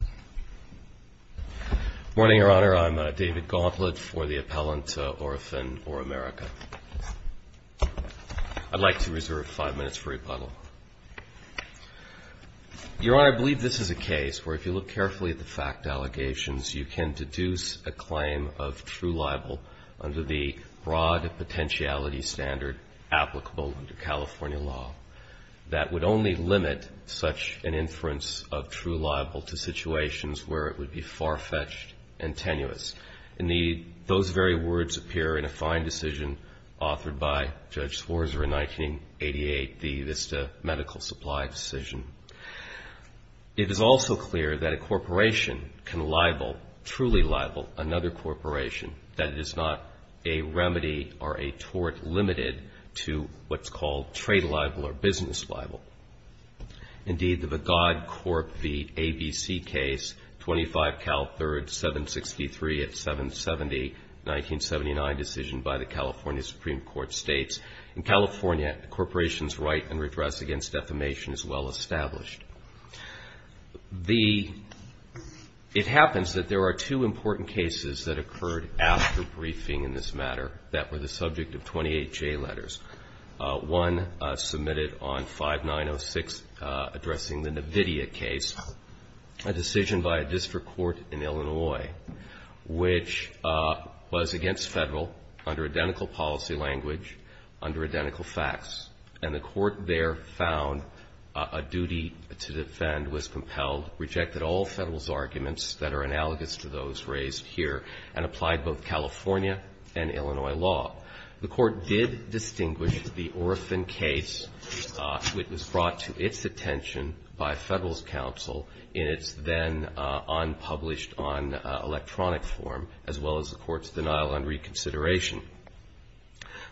Good morning, Your Honor. I'm David Gauntlet for the appellant, ORAFIN-OROAMERICA. I'd like to reserve five minutes for rebuttal. Your Honor, I believe this is a case where, if you look carefully at the fact allegations, you can deduce a claim of true libel under the broad potentiality standard applicable under California law that would only limit such an inference of true libel to situations where it would be far-fetched and tenuous. And those very words appear in a fine decision authored by Judge Swarzer in 1988, the Vista Medical Supply decision. It is also clear that a corporation can libel, truly libel, another corporation, that it is not a remedy or a tort limited to what's called trade libel or business libel. Indeed, the Vagod Corp v. ABC case, 25 Cal 3rd, 763 at 770, 1979 decision by the California Supreme Court states, in California, a corporation's right and redress against defamation is well established. It happens that there are two important cases that occurred after briefing in this matter that were the subject of 28 J letters. One submitted on 5906 addressing the NVIDIA case, a decision by a district court in Illinois, which was against Federal under identical policy language, under identical facts. And the court there found a duty to defend was compelled, rejected all Federal's arguments that are analogous to those raised here, and applied both California and Illinois law. The court did distinguish the Orphan case. It was brought to its attention by Federal's counsel in its then unpublished on electronic form, as well as the court's denial on reconsideration.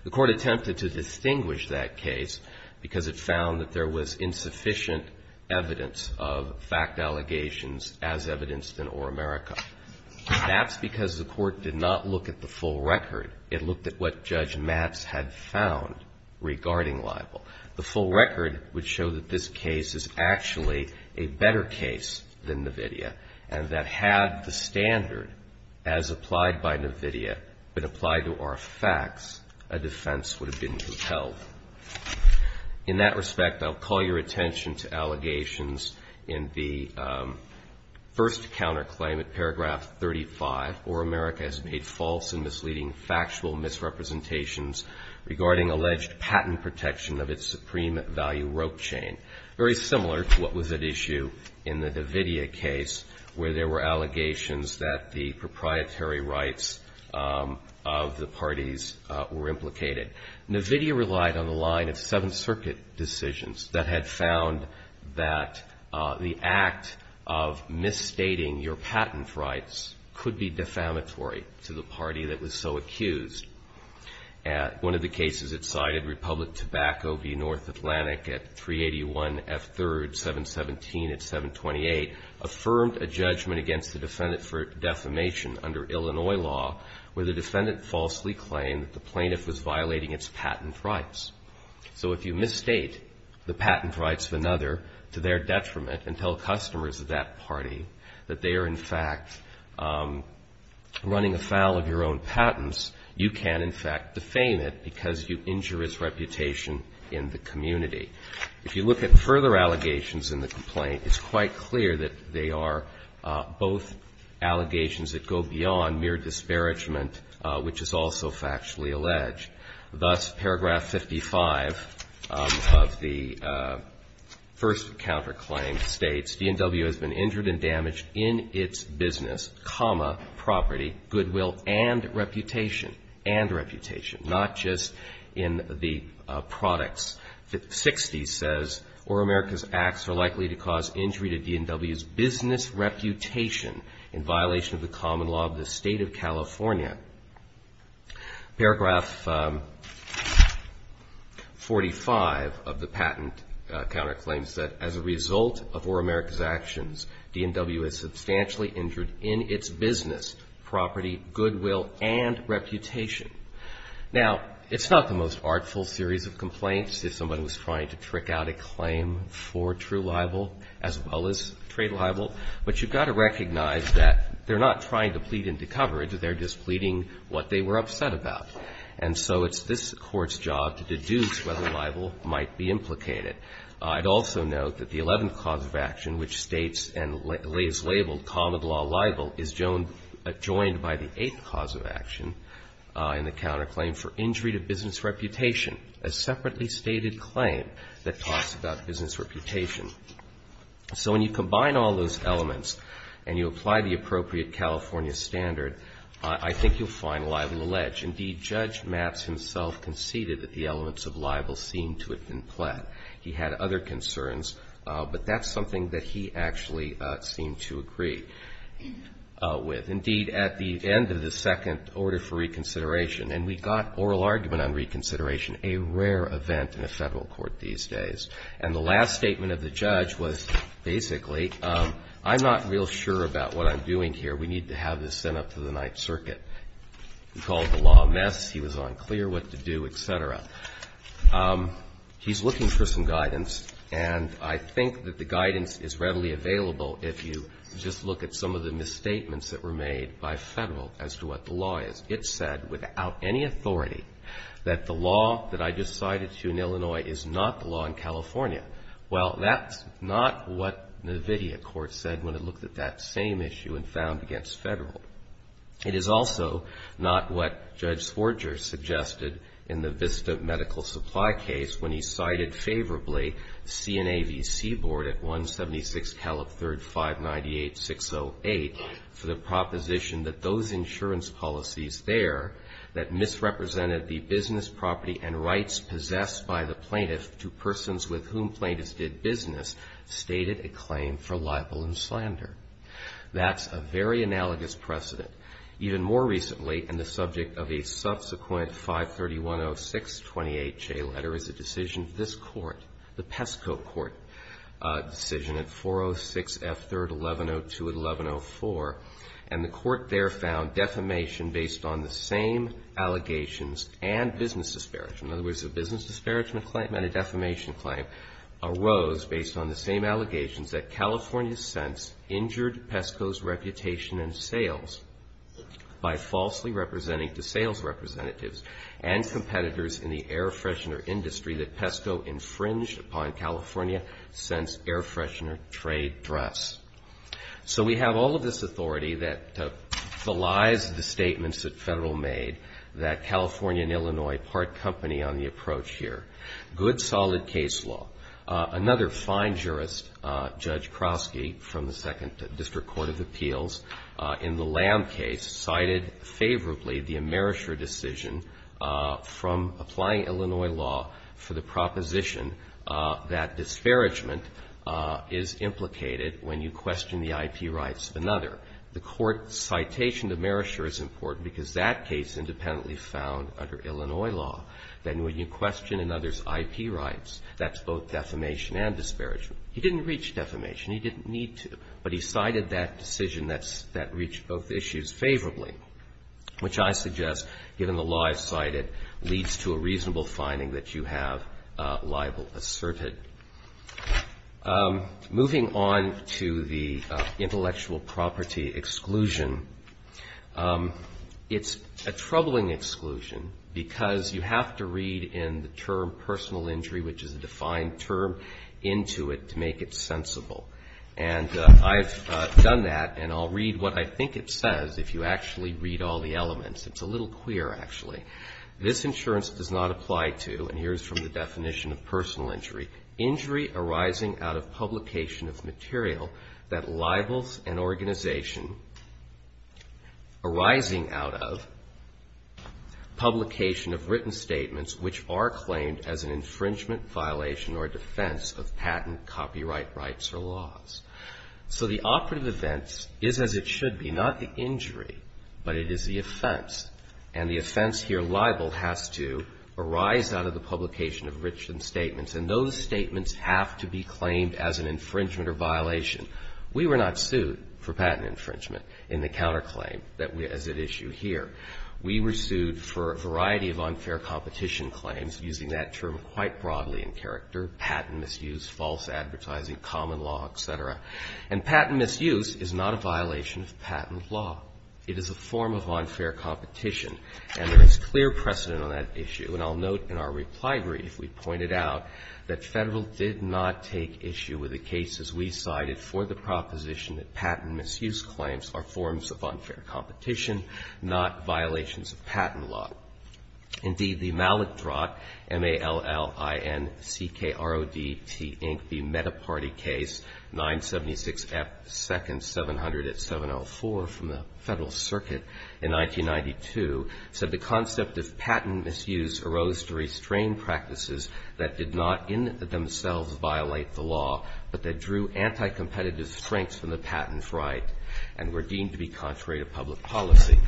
The court attempted to distinguish that case because it found that there was insufficient evidence of fact allegations as evidenced in Or-America. That's because the court did not look at the full record. It looked at what Judge Matz had found regarding libel. The full record would show that this case is actually a better case than NVIDIA, and that had the standard as applied by NVIDIA been applied to our facts, a defense would have been compelled. In that respect, I'll call your attention to allegations in the first counterclaim at paragraph 35, Or-America has made false and misleading factual misrepresentations regarding alleged patent protection of its supreme value rope chain. Very similar to what was at issue in the NVIDIA case where there were allegations that the proprietary rights of the parties were implicated. NVIDIA relied on the line of Seventh Circuit decisions that had found that the act of misstating your patent rights could be defamatory to the party that was so accused. One of the cases it cited, Republic Tobacco v. North Atlantic at 381 F3rd 717 at 728, affirmed a judgment against the defendant for defamation under Illinois law where the defendant falsely claimed that the plaintiff was violating its patent rights. So if you misstate the patent rights of another to their detriment and tell customers of that party that they are, in fact, running afoul of your own patents, you can, in fact, defame it because you injure its reputation in the community. If you look at further allegations in the complaint, it's quite clear that they are both allegations that go beyond mere disparagement, which is also factually alleged. Thus, paragraph 55 of the first counterclaim states, DNW has been injured and damaged in its business, property, goodwill and reputation, and reputation, not just in the products. 60 says, or America's acts are likely to cause injury to DNW's business reputation in violation of the common law of the State of California. Paragraph 45 of the patent counterclaims that, as a result of or America's actions, DNW is substantially injured in its business, property, goodwill and reputation. Now, it's not the most artful series of complaints. If someone was trying to trick out a claim for true libel as well as trade libel, but you've got to recognize that they're not trying to plead into coverage, they're just pleading what they were upset about. And so it's this Court's job to deduce whether libel might be implicated. I'd also note that the 11th cause of action, which states and is labeled common law libel, is joined by the 8th cause of action in the counterclaim for injury to business reputation, a separately stated claim that talks about business reputation. So when you combine all those elements and you apply the appropriate California standard, I think you'll find libel alleged. Indeed, Judge Maps himself conceded that the elements of libel seemed to have been plaid. He had other concerns, but that's something that he actually seemed to agree with. Indeed, at the end of the second order for reconsideration, and we got oral argument on reconsideration, a rare event in a Federal court these days, and the last statement of the judge was basically, I'm not real sure about what I'm doing here. We need to have this sent up to the Ninth Circuit. He called the law a mess. He was unclear what to do, et cetera. He's looking for some guidance, and I think that the guidance is readily available if you just look at some of the misstatements that were made by Federal as to what the law is. It said without any authority that the law that I just cited to you in Illinois is not the law in California. Well, that's not what the NVIDIA court said when it looked at that same issue and found against Federal. It is also not what Judge Sforger suggested in the Vista Medical Supply case when he cited favorably CNAVC Board at 176 Caleb 3rd 598-608 for the proposition that those insurance policies there that misrepresented the business property and rights possessed by the plaintiff to persons with whom plaintiffs did business stated a claim for libel and slander. That's a very analogous precedent. Even more recently, and the subject of a subsequent 531-0628 J letter is a decision this Court, the PESCO Court decision at 406 F 3rd 1102-1104, and the Court there found defamation based on the same allegations and business disparagement. In other words, a business disparagement claim and a defamation claim arose based on the same allegations that California Sense injured PESCO's reputation in sales by falsely representing to sales representatives and competitors in the air freshener industry that PESCO infringed upon California Sense air freshener trade dress. So we have all of this authority that belies the statements that federal made that California and Illinois part company on the approach here. Good solid case law. Another fine jurist, Judge Krosky, from the Second District Court of Appeals, in the Lamb case cited favorably the Amerisher decision from applying Illinois law for the proposition that disparagement is in the interest of one and not implicated when you question the IP rights of another. The Court's citation to Amerisher is important because that case independently found under Illinois law, that when you question another's IP rights, that's both defamation and disparagement. He didn't reach defamation. He didn't need to, but he cited that decision that reached both issues favorably, which I suggest, given the law I cited, leads to a reasonable finding that you have libel asserted. Moving on to the intellectual property exclusion, it's a troubling exclusion because you have to read in the term personal injury, which is a defined term, into it to make it sensible. And I've done that, and I'll read what I think it says if you actually read all the elements. It's a little queer, actually. This insurance does not apply to, and here's from the definition of personal injury, injury arising out of publication of material that libels an organization arising out of publication of written statements which are claimed as an infringement, violation, or defense of patent, copyright rights, or laws. So the operative event is as it should be, not the injury, but it is the offense. And the offense here, libel, has to arise out of the publication of written statements, and those statements have to be claimed as an infringement or violation. We were not sued for patent infringement in the counterclaim as at issue here. We were sued for a variety of unfair competition claims using that term quite broadly in character, patent misuse, false advertising, common law, et cetera. And patent misuse is not a violation of patent law. It is a form of unfair competition, and there is clear precedent on that issue. And I'll note in our reply brief, we pointed out that Federal did not take issue with the cases we cited for the proposition that patent misuse claims are forms of unfair competition, not violations of patent law. Indeed, the Mallett-Drott, M-A-L-L-I-N-C-K-R-O-D-T, Inc. Metaparty case, 976 F. 2nd, 700 at 704 from the Federal Circuit in 1992, said the concept of patent misuse arose to restrain practices that did not in themselves violate the law, but that drew anti-competitive strengths from the patent right and were deemed to be contrary to public policy.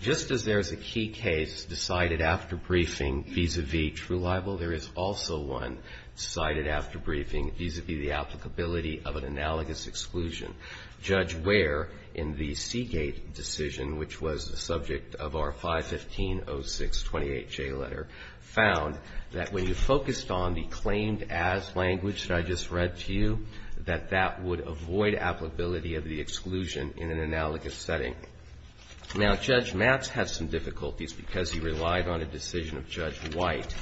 Just as there is a key case decided after briefing vis-à-vis true libel, there is also one cited after briefing vis-à-vis the applicability of an analogous exclusion. Judge Ware, in the Seagate decision, which was the subject of our 515-0628-J letter, found that when you focused on the claimed as language that I just read to you, that that would avoid applicability of the exclusion in an analogous setting. Now, Judge Matz had some difficulties because he relied on a decision of Judge White,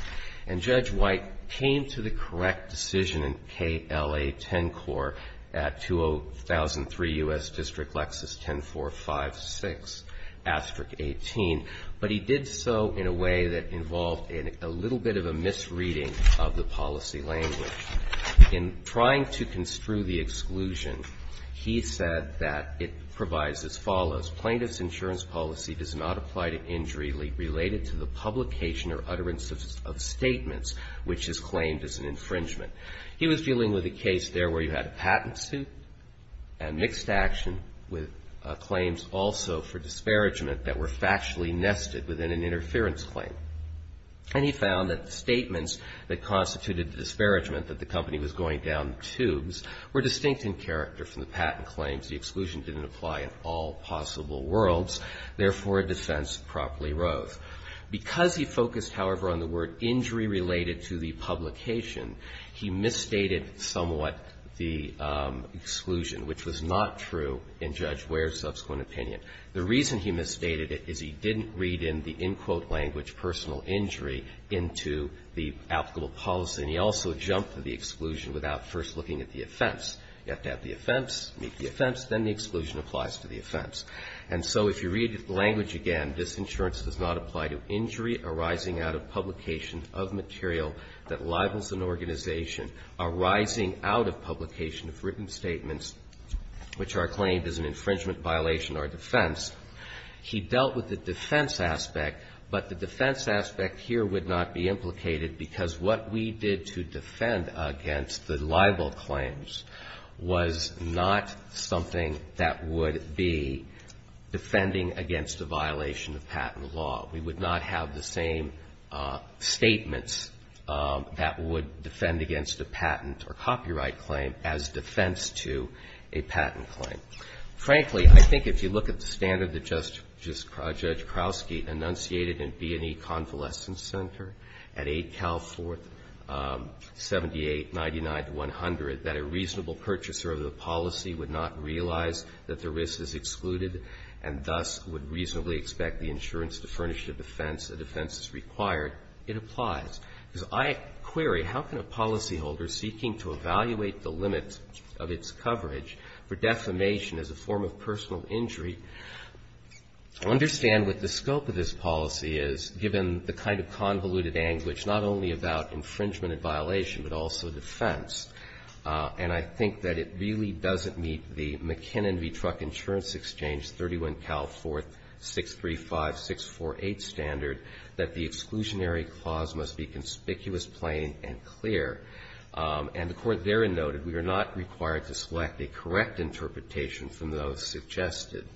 and Judge White came to the correct decision in KLA-10-COR at 2003 U.S. District Lexus 10456-18, but he did so in a way that involved a little bit of a misreading of the policy language. In trying to construe the exclusion, he said that it provides as follows. Plaintiff's insurance policy does not apply to injury related to the publication or utterance of statements which is claimed as an infringement. He was dealing with a case there where you had a patent suit and mixed action with claims also for disparagement that were factually nested within an interference claim. And he found that the statements that constituted the disparagement, that the company was going down tubes, were distinct in character from the patent claims. The exclusion didn't apply in all possible worlds. Therefore, a defense properly rose. Because he focused, however, on the word injury related to the publication, he misstated somewhat the exclusion, which was not true in Judge Ware's subsequent opinion. The reason he misstated it is he didn't read in the in-quote language personal injury into the applicable policy, and he also jumped to the exclusion without first looking at the offense. You have to have the offense, meet the offense, then the exclusion applies to the offense. And so if you read the language again, this insurance does not apply to injury arising out of publication of material that libels an organization arising out of publication of written statements which are claimed as an infringement violation or defense. He dealt with the defense aspect, but the defense aspect here would not be implicated because what we did to defend against the libel claims was not something that would be defending against a violation of patent law. We would not have the same statements that would defend against a patent or copyright claim as defense to a patent claim. Frankly, I think if you look at the standard that Judge Krausky enunciated in B&E Convalescence Center at 8 Cal 4th, 7899 to 100, that a reasonable purchaser of the policy would not realize that the risk is excluded and thus would reasonably expect the insurance to furnish a defense, a defense is required, it applies. Because I query how can a policyholder seeking to evaluate the limits of its coverage for defamation as a form of personal injury understand what the scope of this policy is, given the kind of convoluted anguish not only about infringement and violation but also defense, and I think that it really doesn't meet the McKinnon v. Truck Insurance Exchange, 31 Cal 4th, 635-648 standard that the exclusionary clause must be conspicuous, plain and clear. And the Court therein noted we are not required to select a correct interpretation from those suggested.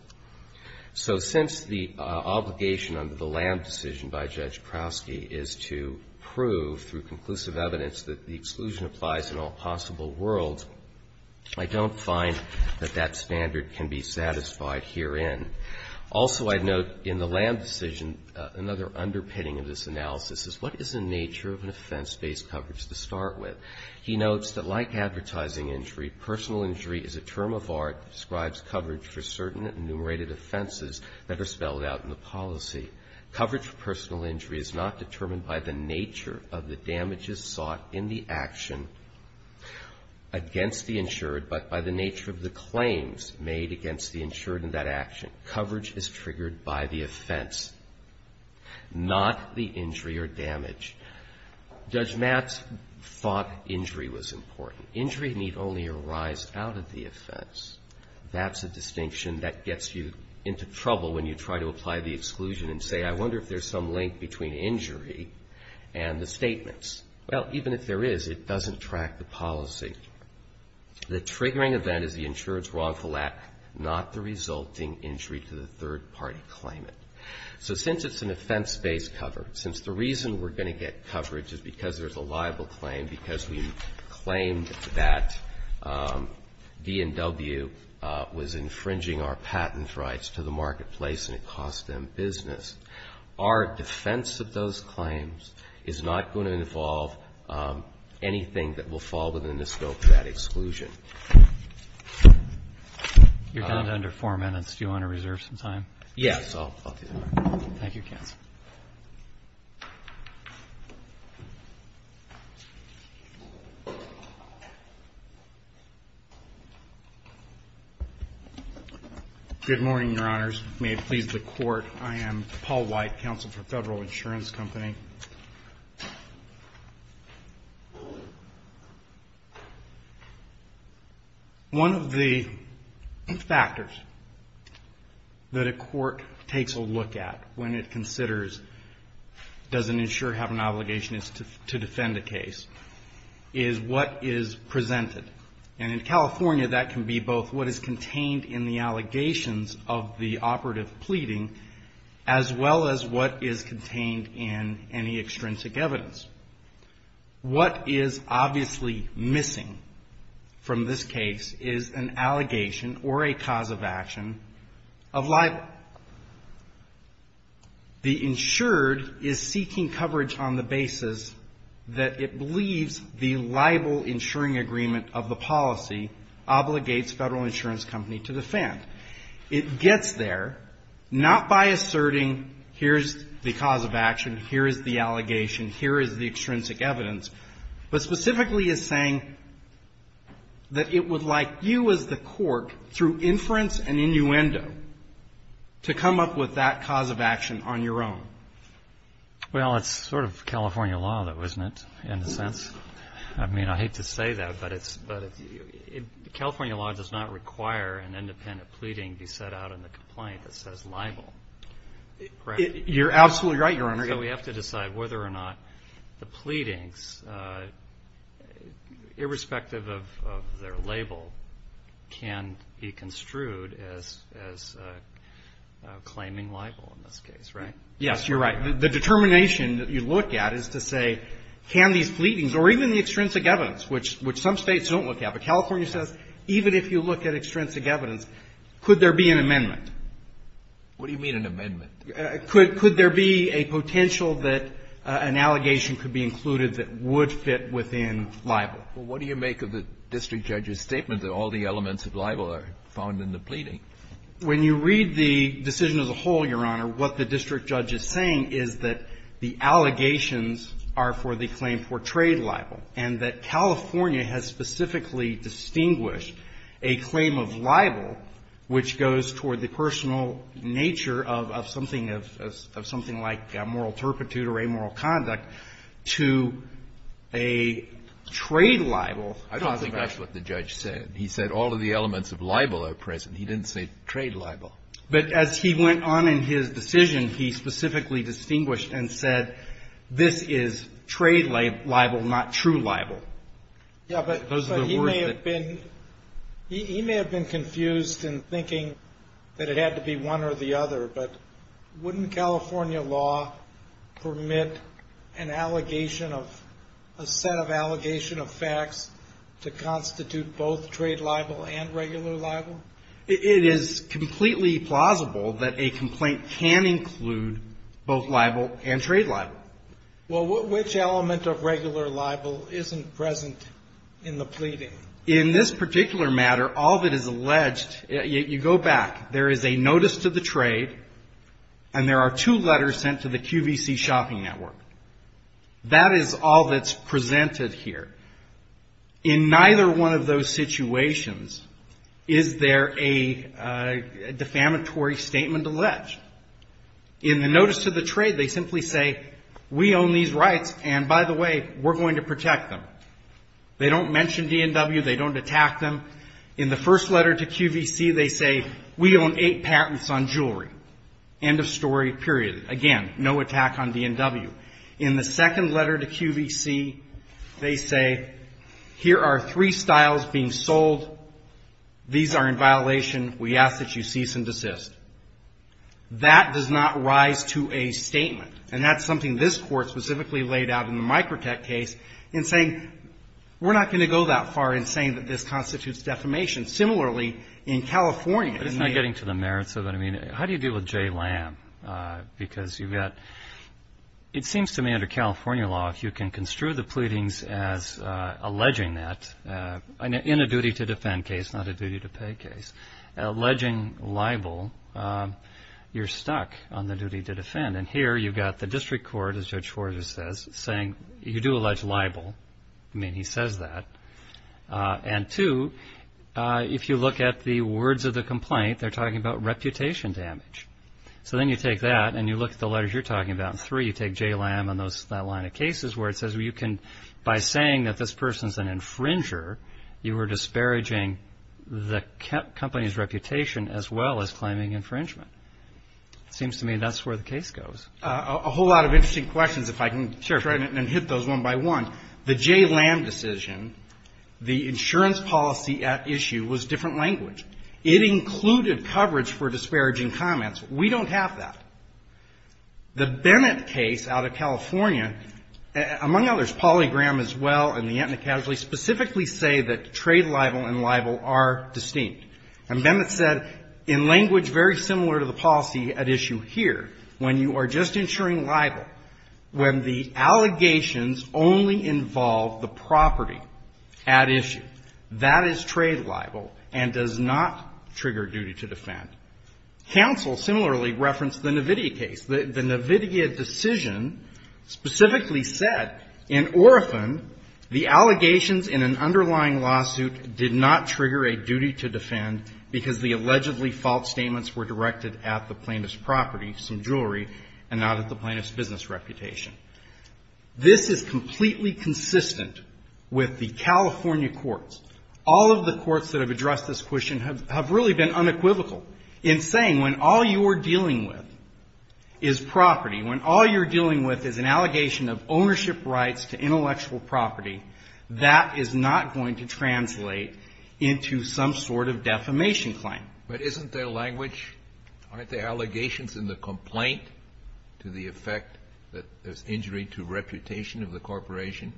So since the obligation under the Lamb decision by Judge Krausky is to prove through conclusive evidence that the exclusion applies in all possible worlds, I don't find that that standard can be satisfied herein. Also, I note in the Lamb decision, another underpinning of this analysis is what is the nature of an offense-based coverage to start with? He notes that like advertising injury, personal injury is a term of art that describes coverage for certain enumerated offenses that are spelled out in the policy. Coverage for personal injury is not determined by the nature of the damages sought in the action against the insured, but by the nature of the claims made against the insured in that action. Coverage is triggered by the offense, not the injury or damage. Judge Matz thought injury was important. Injury need only arise out of the offense. That's a distinction that gets you into trouble when you try to apply the exclusion and say I wonder if there's some link between injury and the statements. Well, even if there is, it doesn't track the policy. The triggering event is the insured's wrongful act, not the resulting injury to the third party claimant. So since it's an offense-based cover, since the reason we're going to get coverage is because there's a liable claim, because we claimed that D&W was infringing our patent rights to the marketplace and it cost them business. Our defense of those claims is not going to involve anything that will fall within the scope of that exclusion. You're down to under four minutes. Do you want to reserve some time? Yes. Thank you, counsel. Good morning, Your Honors. May it please the Court. I am Paul White, counsel for Federal Insurance Company. One of the factors that a court takes a look at when it considers does an insurer have an obligation to defend a case is what is presented. And in California, that can be both what is contained in the allegations of the operative any extrinsic evidence. What is obviously missing from this case is an allegation or a cause of action of libel. The insured is seeking coverage on the basis that it believes the libel insuring agreement of the policy obligates Federal Insurance Company to defend. It gets there not by asserting here's the cause of action, here is the allegation, here is the extrinsic evidence, but specifically is saying that it would like you as the court, through inference and innuendo, to come up with that cause of action on your own. Well, it's sort of California law, though, isn't it, in a sense? I mean, I hate to say that, but California law does not require an independent pleading be set out in the complaint that says libel. You're absolutely right, Your Honor. So we have to decide whether or not the pleadings, irrespective of their label, can be construed as claiming libel in this case, right? Yes, you're right. The determination that you look at is to say, can these pleadings, or even the extrinsic evidence, which some States don't look at, but California says even if you look at extrinsic evidence, could there be an amendment? What do you mean, an amendment? Could there be a potential that an allegation could be included that would fit within libel? Well, what do you make of the district judge's statement that all the elements of libel are found in the pleading? When you read the decision as a whole, Your Honor, what the district judge is saying is that the allegations are for the claim for trade libel, and that California has specifically distinguished a claim of libel, which goes toward the personal nature of something like moral turpitude or amoral conduct, to a trade libel. I don't think that's what the judge said. He said all of the elements of libel are present. He didn't say trade libel. But as he went on in his decision, he specifically distinguished and said this is trade libel, not true libel. Yeah, but he may have been confused in thinking that it had to be one or the other, but wouldn't California law permit an allegation of, a set of allegation of facts to constitute both trade libel and regular libel? It is completely plausible that a complaint can include both libel and trade libel. Well, which element of regular libel isn't present in the pleading? In this particular matter, all that is alleged, you go back, there is a notice to the trade, and there are two letters sent to the QVC shopping network. That is all that's presented here. In neither one of those situations is there a defamatory statement alleged. In the notice to the trade, they simply say, we own these rights, and by the way, we're going to protect them. They don't mention DNW. They don't attack them. In the first letter to QVC, they say, we own eight patents on jewelry. End of story, period. Again, no attack on DNW. In the second letter to QVC, they say, here are three styles being sold. These are in violation. We ask that you cease and desist. That does not rise to a statement, and that's something this Court specifically laid out in the Microtech case in saying, we're not going to go that far in saying that this constitutes defamation. Similarly, in California. But it's not getting to the merits of it. I mean, how do you deal with Jay Lamb? Because you've got, it seems to me under California law, if you can construe the pleadings as alleging that, in a duty to defend case, not a duty to pay case, alleging libel, you're stuck on the duty to defend. And here you've got the district court, as Judge Forger says, saying, you do allege libel. I mean, he says that. And two, if you look at the words of the complaint, they're talking about reputation damage. So then you take that and you look at the letters you're talking about, and three, you take Jay Lamb and that line of cases where it says you can, by saying that this person's an infringer, you are disparaging the company's reputation as well as claiming infringement. It seems to me that's where the case goes. A whole lot of interesting questions, if I can try and hit those one by one. The Jay Lamb decision, the insurance policy at issue was different language. It included coverage for disparaging comments. We don't have that. The Bennett case out of California, among others, Polygram as well, and the Aetna Casualty, specifically say that trade libel and libel are distinct. And Bennett said, in language very similar to the policy at issue here, when you are just insuring libel, when the allegations only involve the property at issue, that is trade libel and does not trigger duty to defend. Counsel similarly referenced the Navidia case. The Navidia decision specifically said, in Orathon, the allegations in an underlying lawsuit did not trigger a duty to defend because the allegedly false statements were directed at the plaintiff's property, some jewelry, and not at the plaintiff's business reputation. This is completely consistent with the California courts. All of the courts that have addressed this question have really been unequivocal in saying when all you are dealing with is property, when all you're dealing with is an allegation of ownership rights to intellectual property, that is not going to translate into some sort of defamation claim. Kennedy. But isn't there language? Aren't there allegations in the complaint to the effect that there's injury to reputation of the corporation?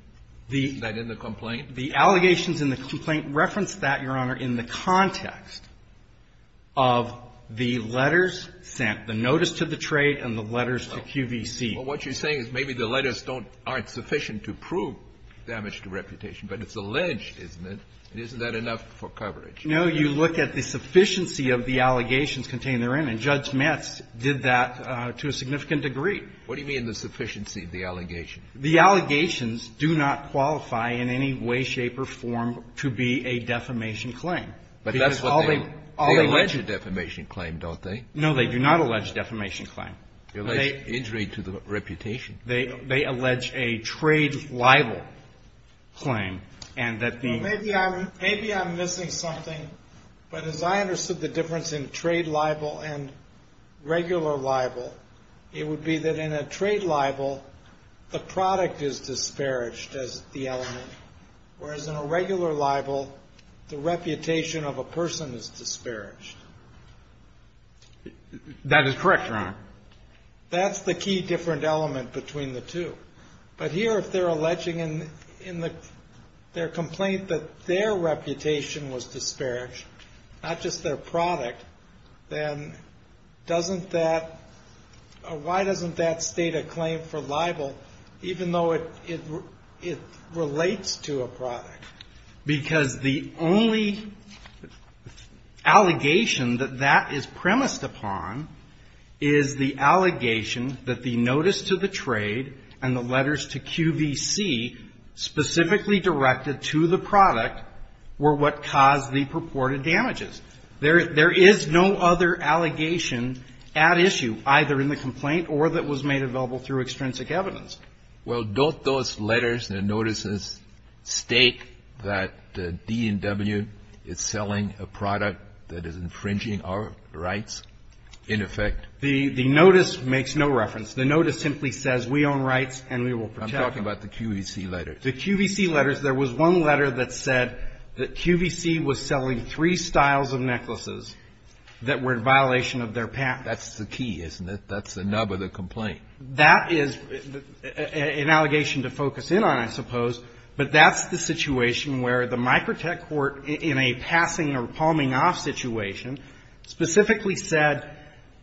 Isn't that in the complaint? The allegations in the complaint reference that, Your Honor, in the context of the letters sent, the notice to the trade and the letters to QVC. Well, what you're saying is maybe the letters aren't sufficient to prove damage to reputation, but it's alleged, isn't it, and isn't that enough for coverage? No. You look at the sufficiency of the allegations contained therein, and Judge Metz did that to a significant degree. What do you mean the sufficiency of the allegations? The allegations do not qualify in any way, shape, or form to be a defamation claim. But that's what they allege a defamation claim, don't they? No, they do not allege a defamation claim. They allege injury to the reputation. They allege a trade libel claim, and that the ---- Well, maybe I'm missing something, but as I understood the difference in trade libel and regular libel, it would be that in a trade libel, the product is disparaged as the element, whereas in a regular libel, the reputation of a person is disparaged. That is correct, Your Honor. That's the key different element between the two. But here, if they're alleging in their complaint that their reputation was disparaged, not just their product, then doesn't that or why doesn't that state a claim for libel because the only allegation that that is premised upon is the allegation that the notice to the trade and the letters to QVC specifically directed to the product were what caused the purported damages. There is no other allegation at issue, either in the complaint or that was made available through extrinsic evidence. Well, don't those letters and notices state that the DNW is selling a product that is infringing our rights in effect? The notice makes no reference. The notice simply says we own rights and we will protect them. I'm talking about the QVC letters. The QVC letters. There was one letter that said that QVC was selling three styles of necklaces that were in violation of their patent. That's the key, isn't it? That's the nub of the complaint. That is an allegation to focus in on, I suppose. But that's the situation where the microtech court in a passing or palming off situation specifically said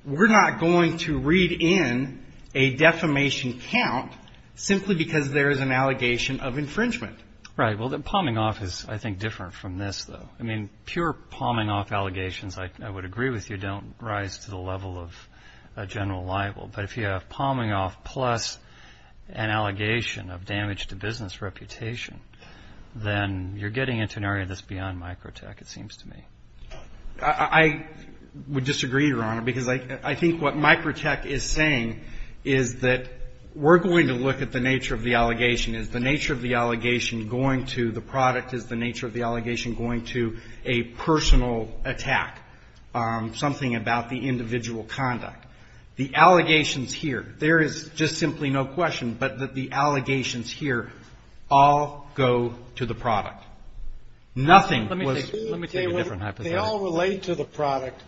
we're not going to read in a defamation count simply because there is an allegation of infringement. Right. Well, the palming off is, I think, different from this, though. I mean, pure palming off allegations, I would agree with you, don't rise to the level of a general libel. But if you have palming off plus an allegation of damage to business reputation, then you're getting into an area that's beyond microtech, it seems to me. I would disagree, Your Honor, because I think what microtech is saying is that we're going to look at the nature of the allegation. Is the nature of the allegation going to the product? Is the nature of the allegation going to a personal attack, something about the individual conduct? The allegations here, there is just simply no question but that the allegations here all go to the product. Nothing was. Let me take a different hypothesis. They all relate to the product,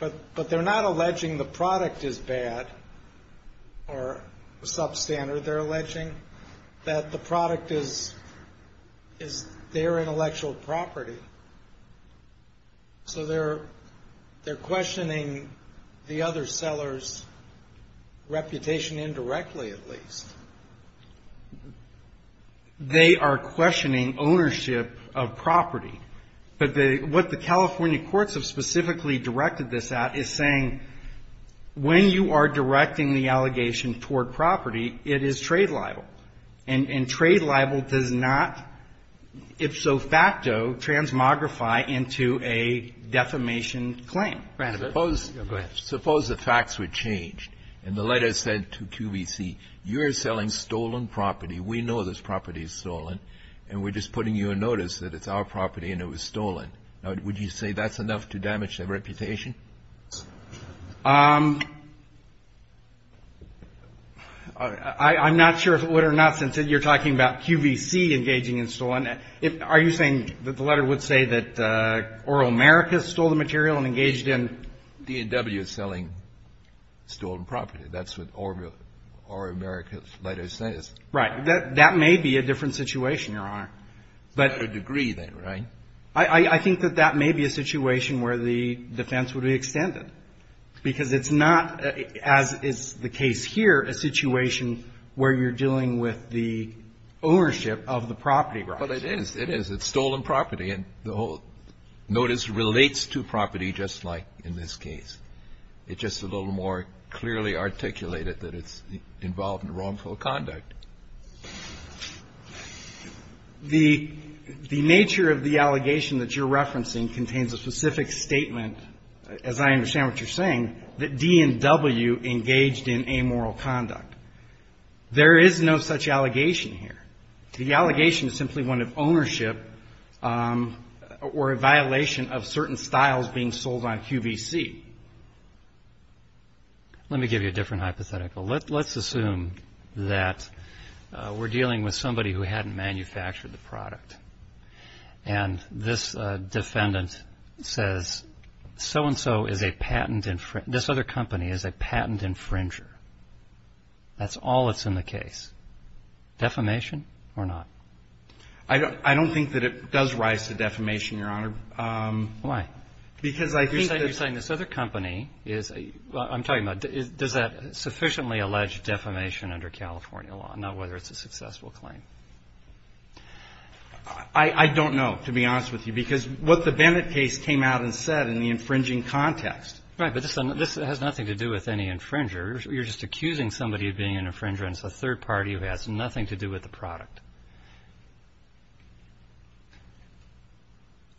but they're not alleging the product is bad or substandard. They're alleging that the product is their intellectual property. So they're questioning the other seller's reputation indirectly, at least. They are questioning ownership of property. But what the California courts have specifically directed this at is saying when you are directing the allegation toward property, it is trade libel. And trade libel does not, if so facto, transmogrify into a defamation claim. Go ahead. Suppose the facts were changed and the letter said to QVC, you're selling stolen property, we know this property is stolen, and we're just putting you a notice that it's our property and it was stolen. Would you say that's enough to damage their reputation? I'm not sure if it would or not, since you're talking about QVC engaging in stolen. Are you saying that the letter would say that Oral America stole the material and engaged in? D&W is selling stolen property. That's what Oral America's letter says. Right. That may be a different situation, Your Honor. To a degree, then, right? I think that that may be a situation where the defense would be extended, because it's not, as is the case here, a situation where you're dealing with the ownership of the property rights. But it is. It is. It's stolen property. And the whole notice relates to property, just like in this case. It's just a little more clearly articulated that it's involved in wrongful conduct. The nature of the allegation that you're referencing contains a specific statement, as I understand what you're saying, that D&W engaged in amoral conduct. There is no such allegation here. The allegation is simply one of ownership or a violation of certain styles being sold on QVC. Let me give you a different hypothetical. Let's assume that we're dealing with somebody who hadn't manufactured the product. And this defendant says, so-and-so is a patent infringer. This other company is a patent infringer. That's all that's in the case. Defamation or not? I don't think that it does rise to defamation, Your Honor. Why? Because I think that you're saying this other company is ‑‑ I'm talking about does that sufficiently allege defamation under California law, not whether it's a successful claim. I don't know, to be honest with you, because what the Bennett case came out and said in the infringing context. Right, but this has nothing to do with any infringer. You're just accusing somebody of being an infringer, and it's a third party who has nothing to do with the product.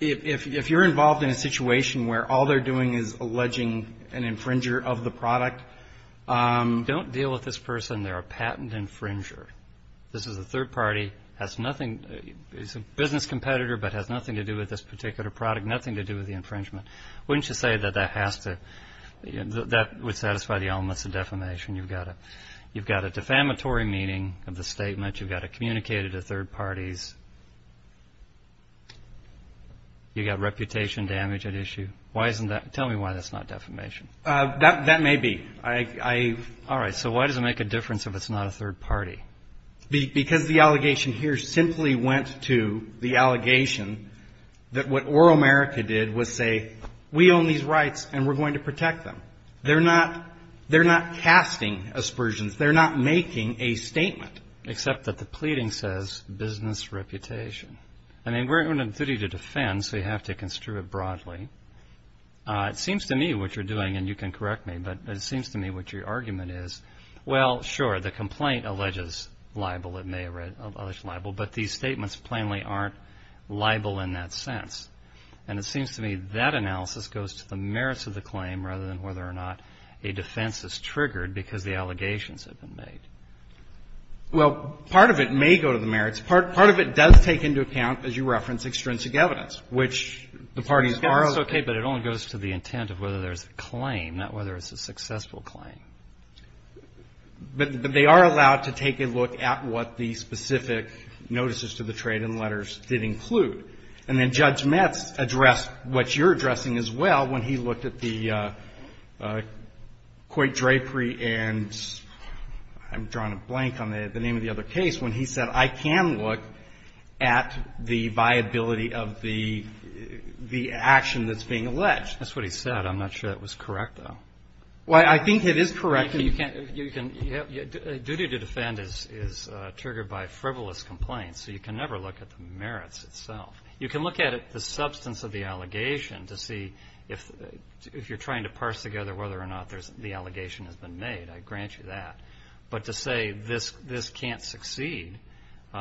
If you're involved in a situation where all they're doing is alleging an infringer of the product, don't deal with this person. They're a patent infringer. This is a third party. It's a business competitor, but it has nothing to do with this particular product, nothing to do with the infringement. Wouldn't you say that that would satisfy the elements of defamation? You've got a defamatory meaning of the statement. You've got it communicated to third parties. You've got reputation damage at issue. Tell me why that's not defamation. That may be. All right, so why does it make a difference if it's not a third party? Because the allegation here simply went to the allegation that what Oral America did was say, we own these rights, and we're going to protect them. They're not casting aspersions. They're not making a statement. Except that the pleading says business reputation. I mean, we're in a duty to defend, so you have to construe it broadly. It seems to me what you're doing, and you can correct me, but it seems to me what your argument is, well, sure, the complaint alleges libel, it may allege libel, but these statements plainly aren't libel in that sense. And it seems to me that analysis goes to the merits of the claim rather than whether or not a defense is triggered because the allegations have been made. Well, part of it may go to the merits. Part of it does take into account, as you reference, extrinsic evidence, which the parties borrow. Extrinsic evidence, okay, but it only goes to the intent of whether there's a claim, not whether it's a successful claim. But they are allowed to take a look at what the specific notices to the trade and letters did include. And then Judge Metz addressed what you're addressing as well when he looked at the Coit-Drapery and I'm drawing a blank on the name of the other case, when he said I can look at the viability of the action that's being alleged. That's what he said. I'm not sure that was correct, though. Well, I think it is correct. You can't, you can, duty to defend is triggered by frivolous complaints, so you can never look at the merits itself. You can look at the substance of the allegation to see if you're trying to parse together whether or not the allegation has been made. I grant you that. But to say this can't succeed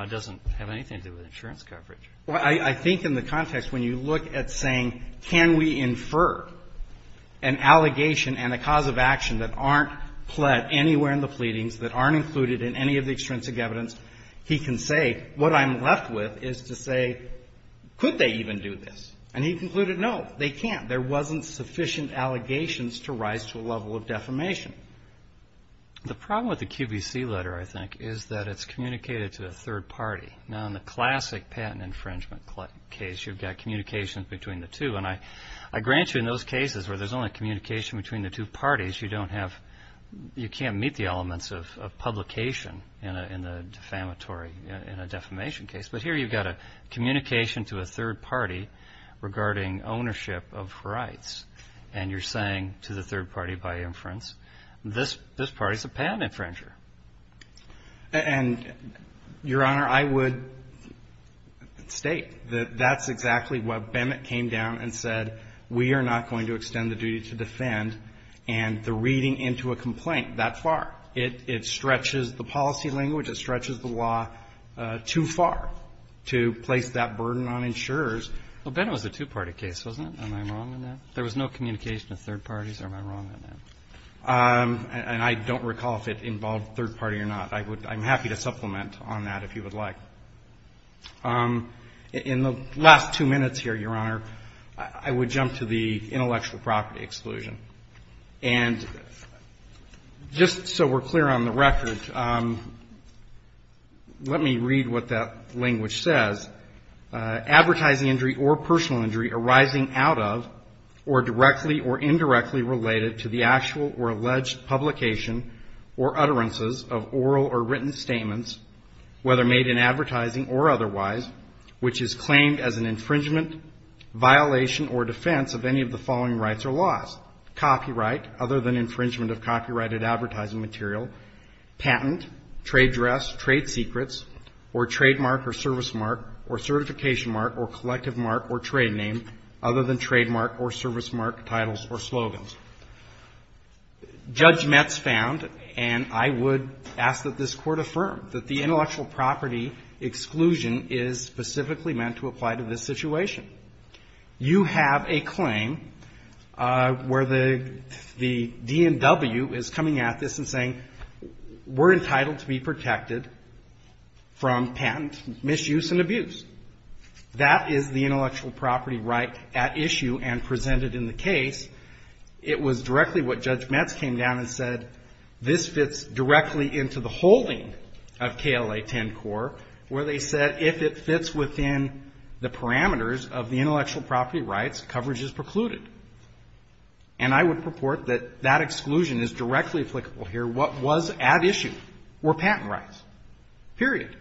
doesn't have anything to do with insurance coverage. Well, I think in the context when you look at saying can we infer an allegation and a cause of action that aren't pled anywhere in the pleadings, that aren't included in any of the extrinsic evidence, he can say what I'm left with is to say could they even do this. And he concluded no, they can't. There wasn't sufficient allegations to rise to a level of defamation. The problem with the QVC letter, I think, is that it's communicated to a third party. Now, in the classic patent infringement case, you've got communications between the two. And I grant you in those cases where there's only communication between the two parties, you don't have, you can't meet the elements of publication in a defamatory, in a defamation case. But here you've got a communication to a third party regarding ownership of rights. And you're saying to the third party by inference, this party's a patent infringer. And, Your Honor, I would state that that's exactly what Bennett came down and said, we are not going to extend the duty to defend, and the reading into a complaint that far, it stretches the policy language, it stretches the law too far to place that burden on insurers. Well, Bennett was a two-party case, wasn't it? Am I wrong on that? There was no communication to third parties. Am I wrong on that? And I don't recall if it involved third party or not. I'm happy to supplement on that if you would like. In the last two minutes here, Your Honor, I would jump to the intellectual property exclusion. And just so we're clear on the record, let me read what that language says. Advertising injury or personal injury arising out of or directly or indirectly related to the actual or alleged publication or utterances of oral or written statements, whether made in advertising or otherwise, which is claimed as an infringement, violation or defense of any of the following rights or laws. Copyright, other than infringement of copyrighted advertising material, patent, trade dress, trade secrets, or trademark or service mark, or certification mark, or collective mark, or trade name, other than trademark or service mark titles or slogans. Judge Metz found, and I would ask that this Court affirm, that the intellectual property exclusion is specifically meant to apply to this situation. You have a claim where the DNW is coming at this and saying, we're entitled to be protected from patent misuse and abuse. That is the intellectual property right at issue and presented in the case. It was directly what Judge Metz came down and said, this fits directly into the holding of KLA 10-Core, where they said, if it fits within the parameters of the intellectual property rights, coverage is precluded. And I would purport that that exclusion is directly applicable here. What was at issue were patent rights, period.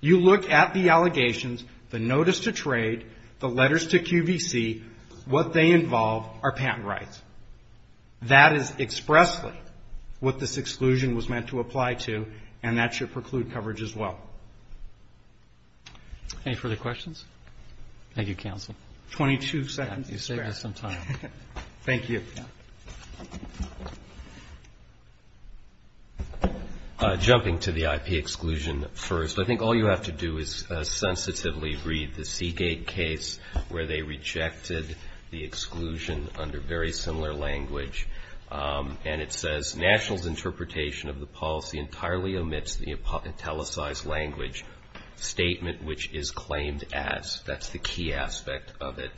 You look at the allegations, the notice to trade, the letters to QVC, what they involve are patent rights. That is expressly what this exclusion was meant to apply to, and that should preclude coverage as well. Roberts. Any further questions? Thank you, counsel. Twenty-two seconds to spare. You saved us some time. Thank you. Thank you. Jumping to the IP exclusion first, I think all you have to do is sensitively read the Seagate case, where they rejected the exclusion under very similar language. And it says, National's interpretation of the policy entirely omits the italicized language statement which is claimed as. That's the key aspect of it.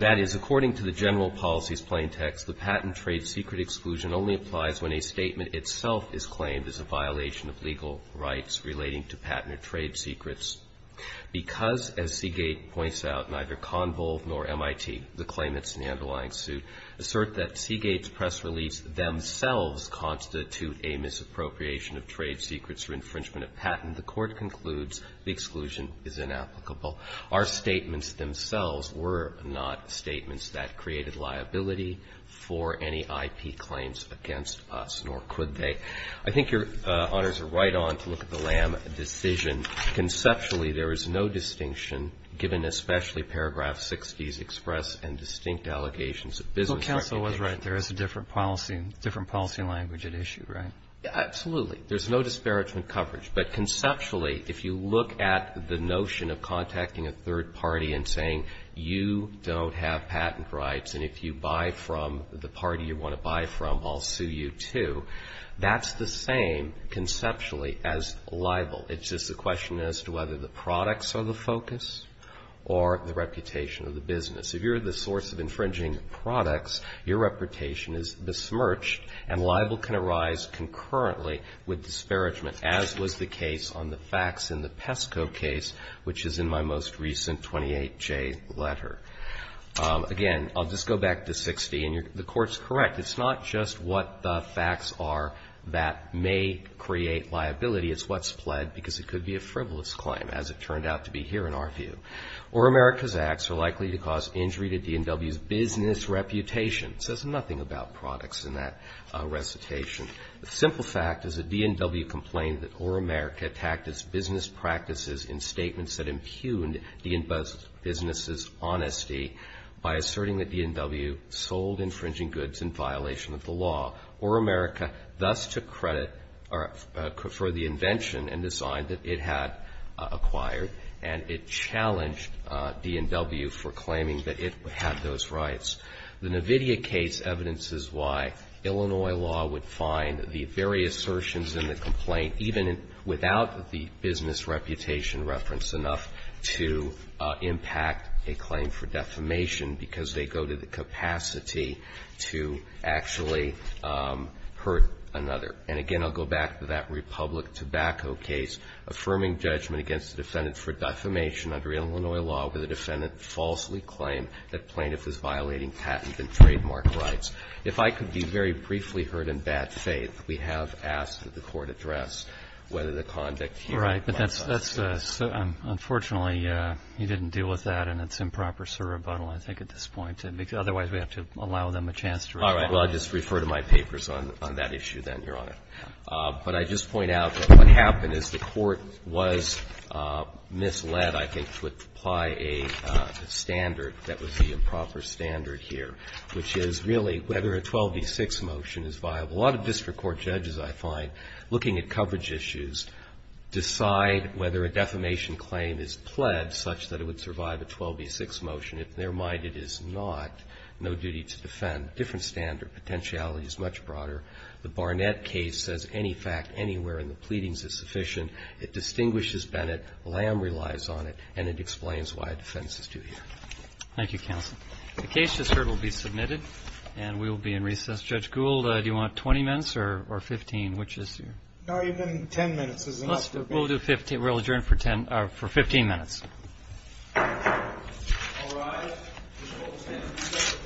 That is, according to the general policy's plain text, the patent trade secret exclusion only applies when a statement itself is claimed as a violation of legal rights relating to patent or trade secrets. Because, as Seagate points out, neither Convo or MIT, the claimants in the underlying suit, assert that Seagate's press release themselves constitute a misappropriation of trade secrets or infringement of patent, the Court concludes the exclusion is inapplicable. Our statements themselves were not statements that created liability for any IP claims against us, nor could they. I think Your Honors are right on to look at the Lam decision. Conceptually, there is no distinction, given especially paragraph 60's express and distinct allegations of business reputation. But counsel was right. There is a different policy, different policy language at issue, right? Absolutely. There's no disparagement coverage. But conceptually, if you look at the notion of contacting a third party and saying you don't have patent rights and if you buy from the party you want to buy from, I'll sue you too, that's the same conceptually as libel. It's just a question as to whether the products are the focus or the reputation of the business. If you're the source of infringing products, your reputation is besmirched and libel can arise concurrently with disparagement, as was the case on the facts in the PESCO case, which is in my most recent 28J letter. Again, I'll just go back to 60. And the Court's correct. It's not just what the facts are that may create liability. It's what's pled because it could be a frivolous claim, as it turned out to be here in our view. Or America's acts are likely to cause injury to DNW's business reputation. It says nothing about products in that recitation. The simple fact is a DNW complained that Or America attacked its business practices in statements that impugned the business's honesty by asserting that DNW sold infringing goods in violation of the law. Or America thus took credit for the invention and the sign that it had acquired and it challenged DNW for claiming that it had those rights. The NVIDIA case evidences why Illinois law would find the various assertions in the complaint, even without the business reputation reference enough, to impact a claim for defamation because they go to the capacity to actually hurt another. And again, I'll go back to that Republic Tobacco case affirming judgment against the defendant for defamation under Illinois law where the defendant falsely claimed that plaintiff was violating patent and trademark rights. If I could be very briefly heard in bad faith, we have asked that the Court address whether the conduct here by the plaintiffs. Robertson, Unfortunately, he didn't deal with that, and it's improper surrebuttal I think at this point. Otherwise, we have to allow them a chance to respond. Well, I'll just refer to my papers on that issue then, Your Honor. But I just point out that what happened is the Court was misled, I think, to apply a standard that would be a proper standard here, which is really whether a 12b-6 motion is viable. A lot of district court judges, I find, looking at coverage issues, decide whether a defamation claim is pledged such that it would survive a 12b-6 motion. In their mind, it is not. No duty to defend. Different standard. Potentiality is much broader. The Barnett case says any fact anywhere in the pleadings is sufficient. It distinguishes Bennett. Lamb relies on it, and it explains why defense is due here. Thank you, counsel. The case just heard will be submitted, and we will be in recess. Judge Gould, do you want 20 minutes or 15, which is your? No, even 10 minutes is enough. We'll do 15. We'll adjourn for 10 or for 15 minutes. All rise. The court is in recess for approximately 15 minutes.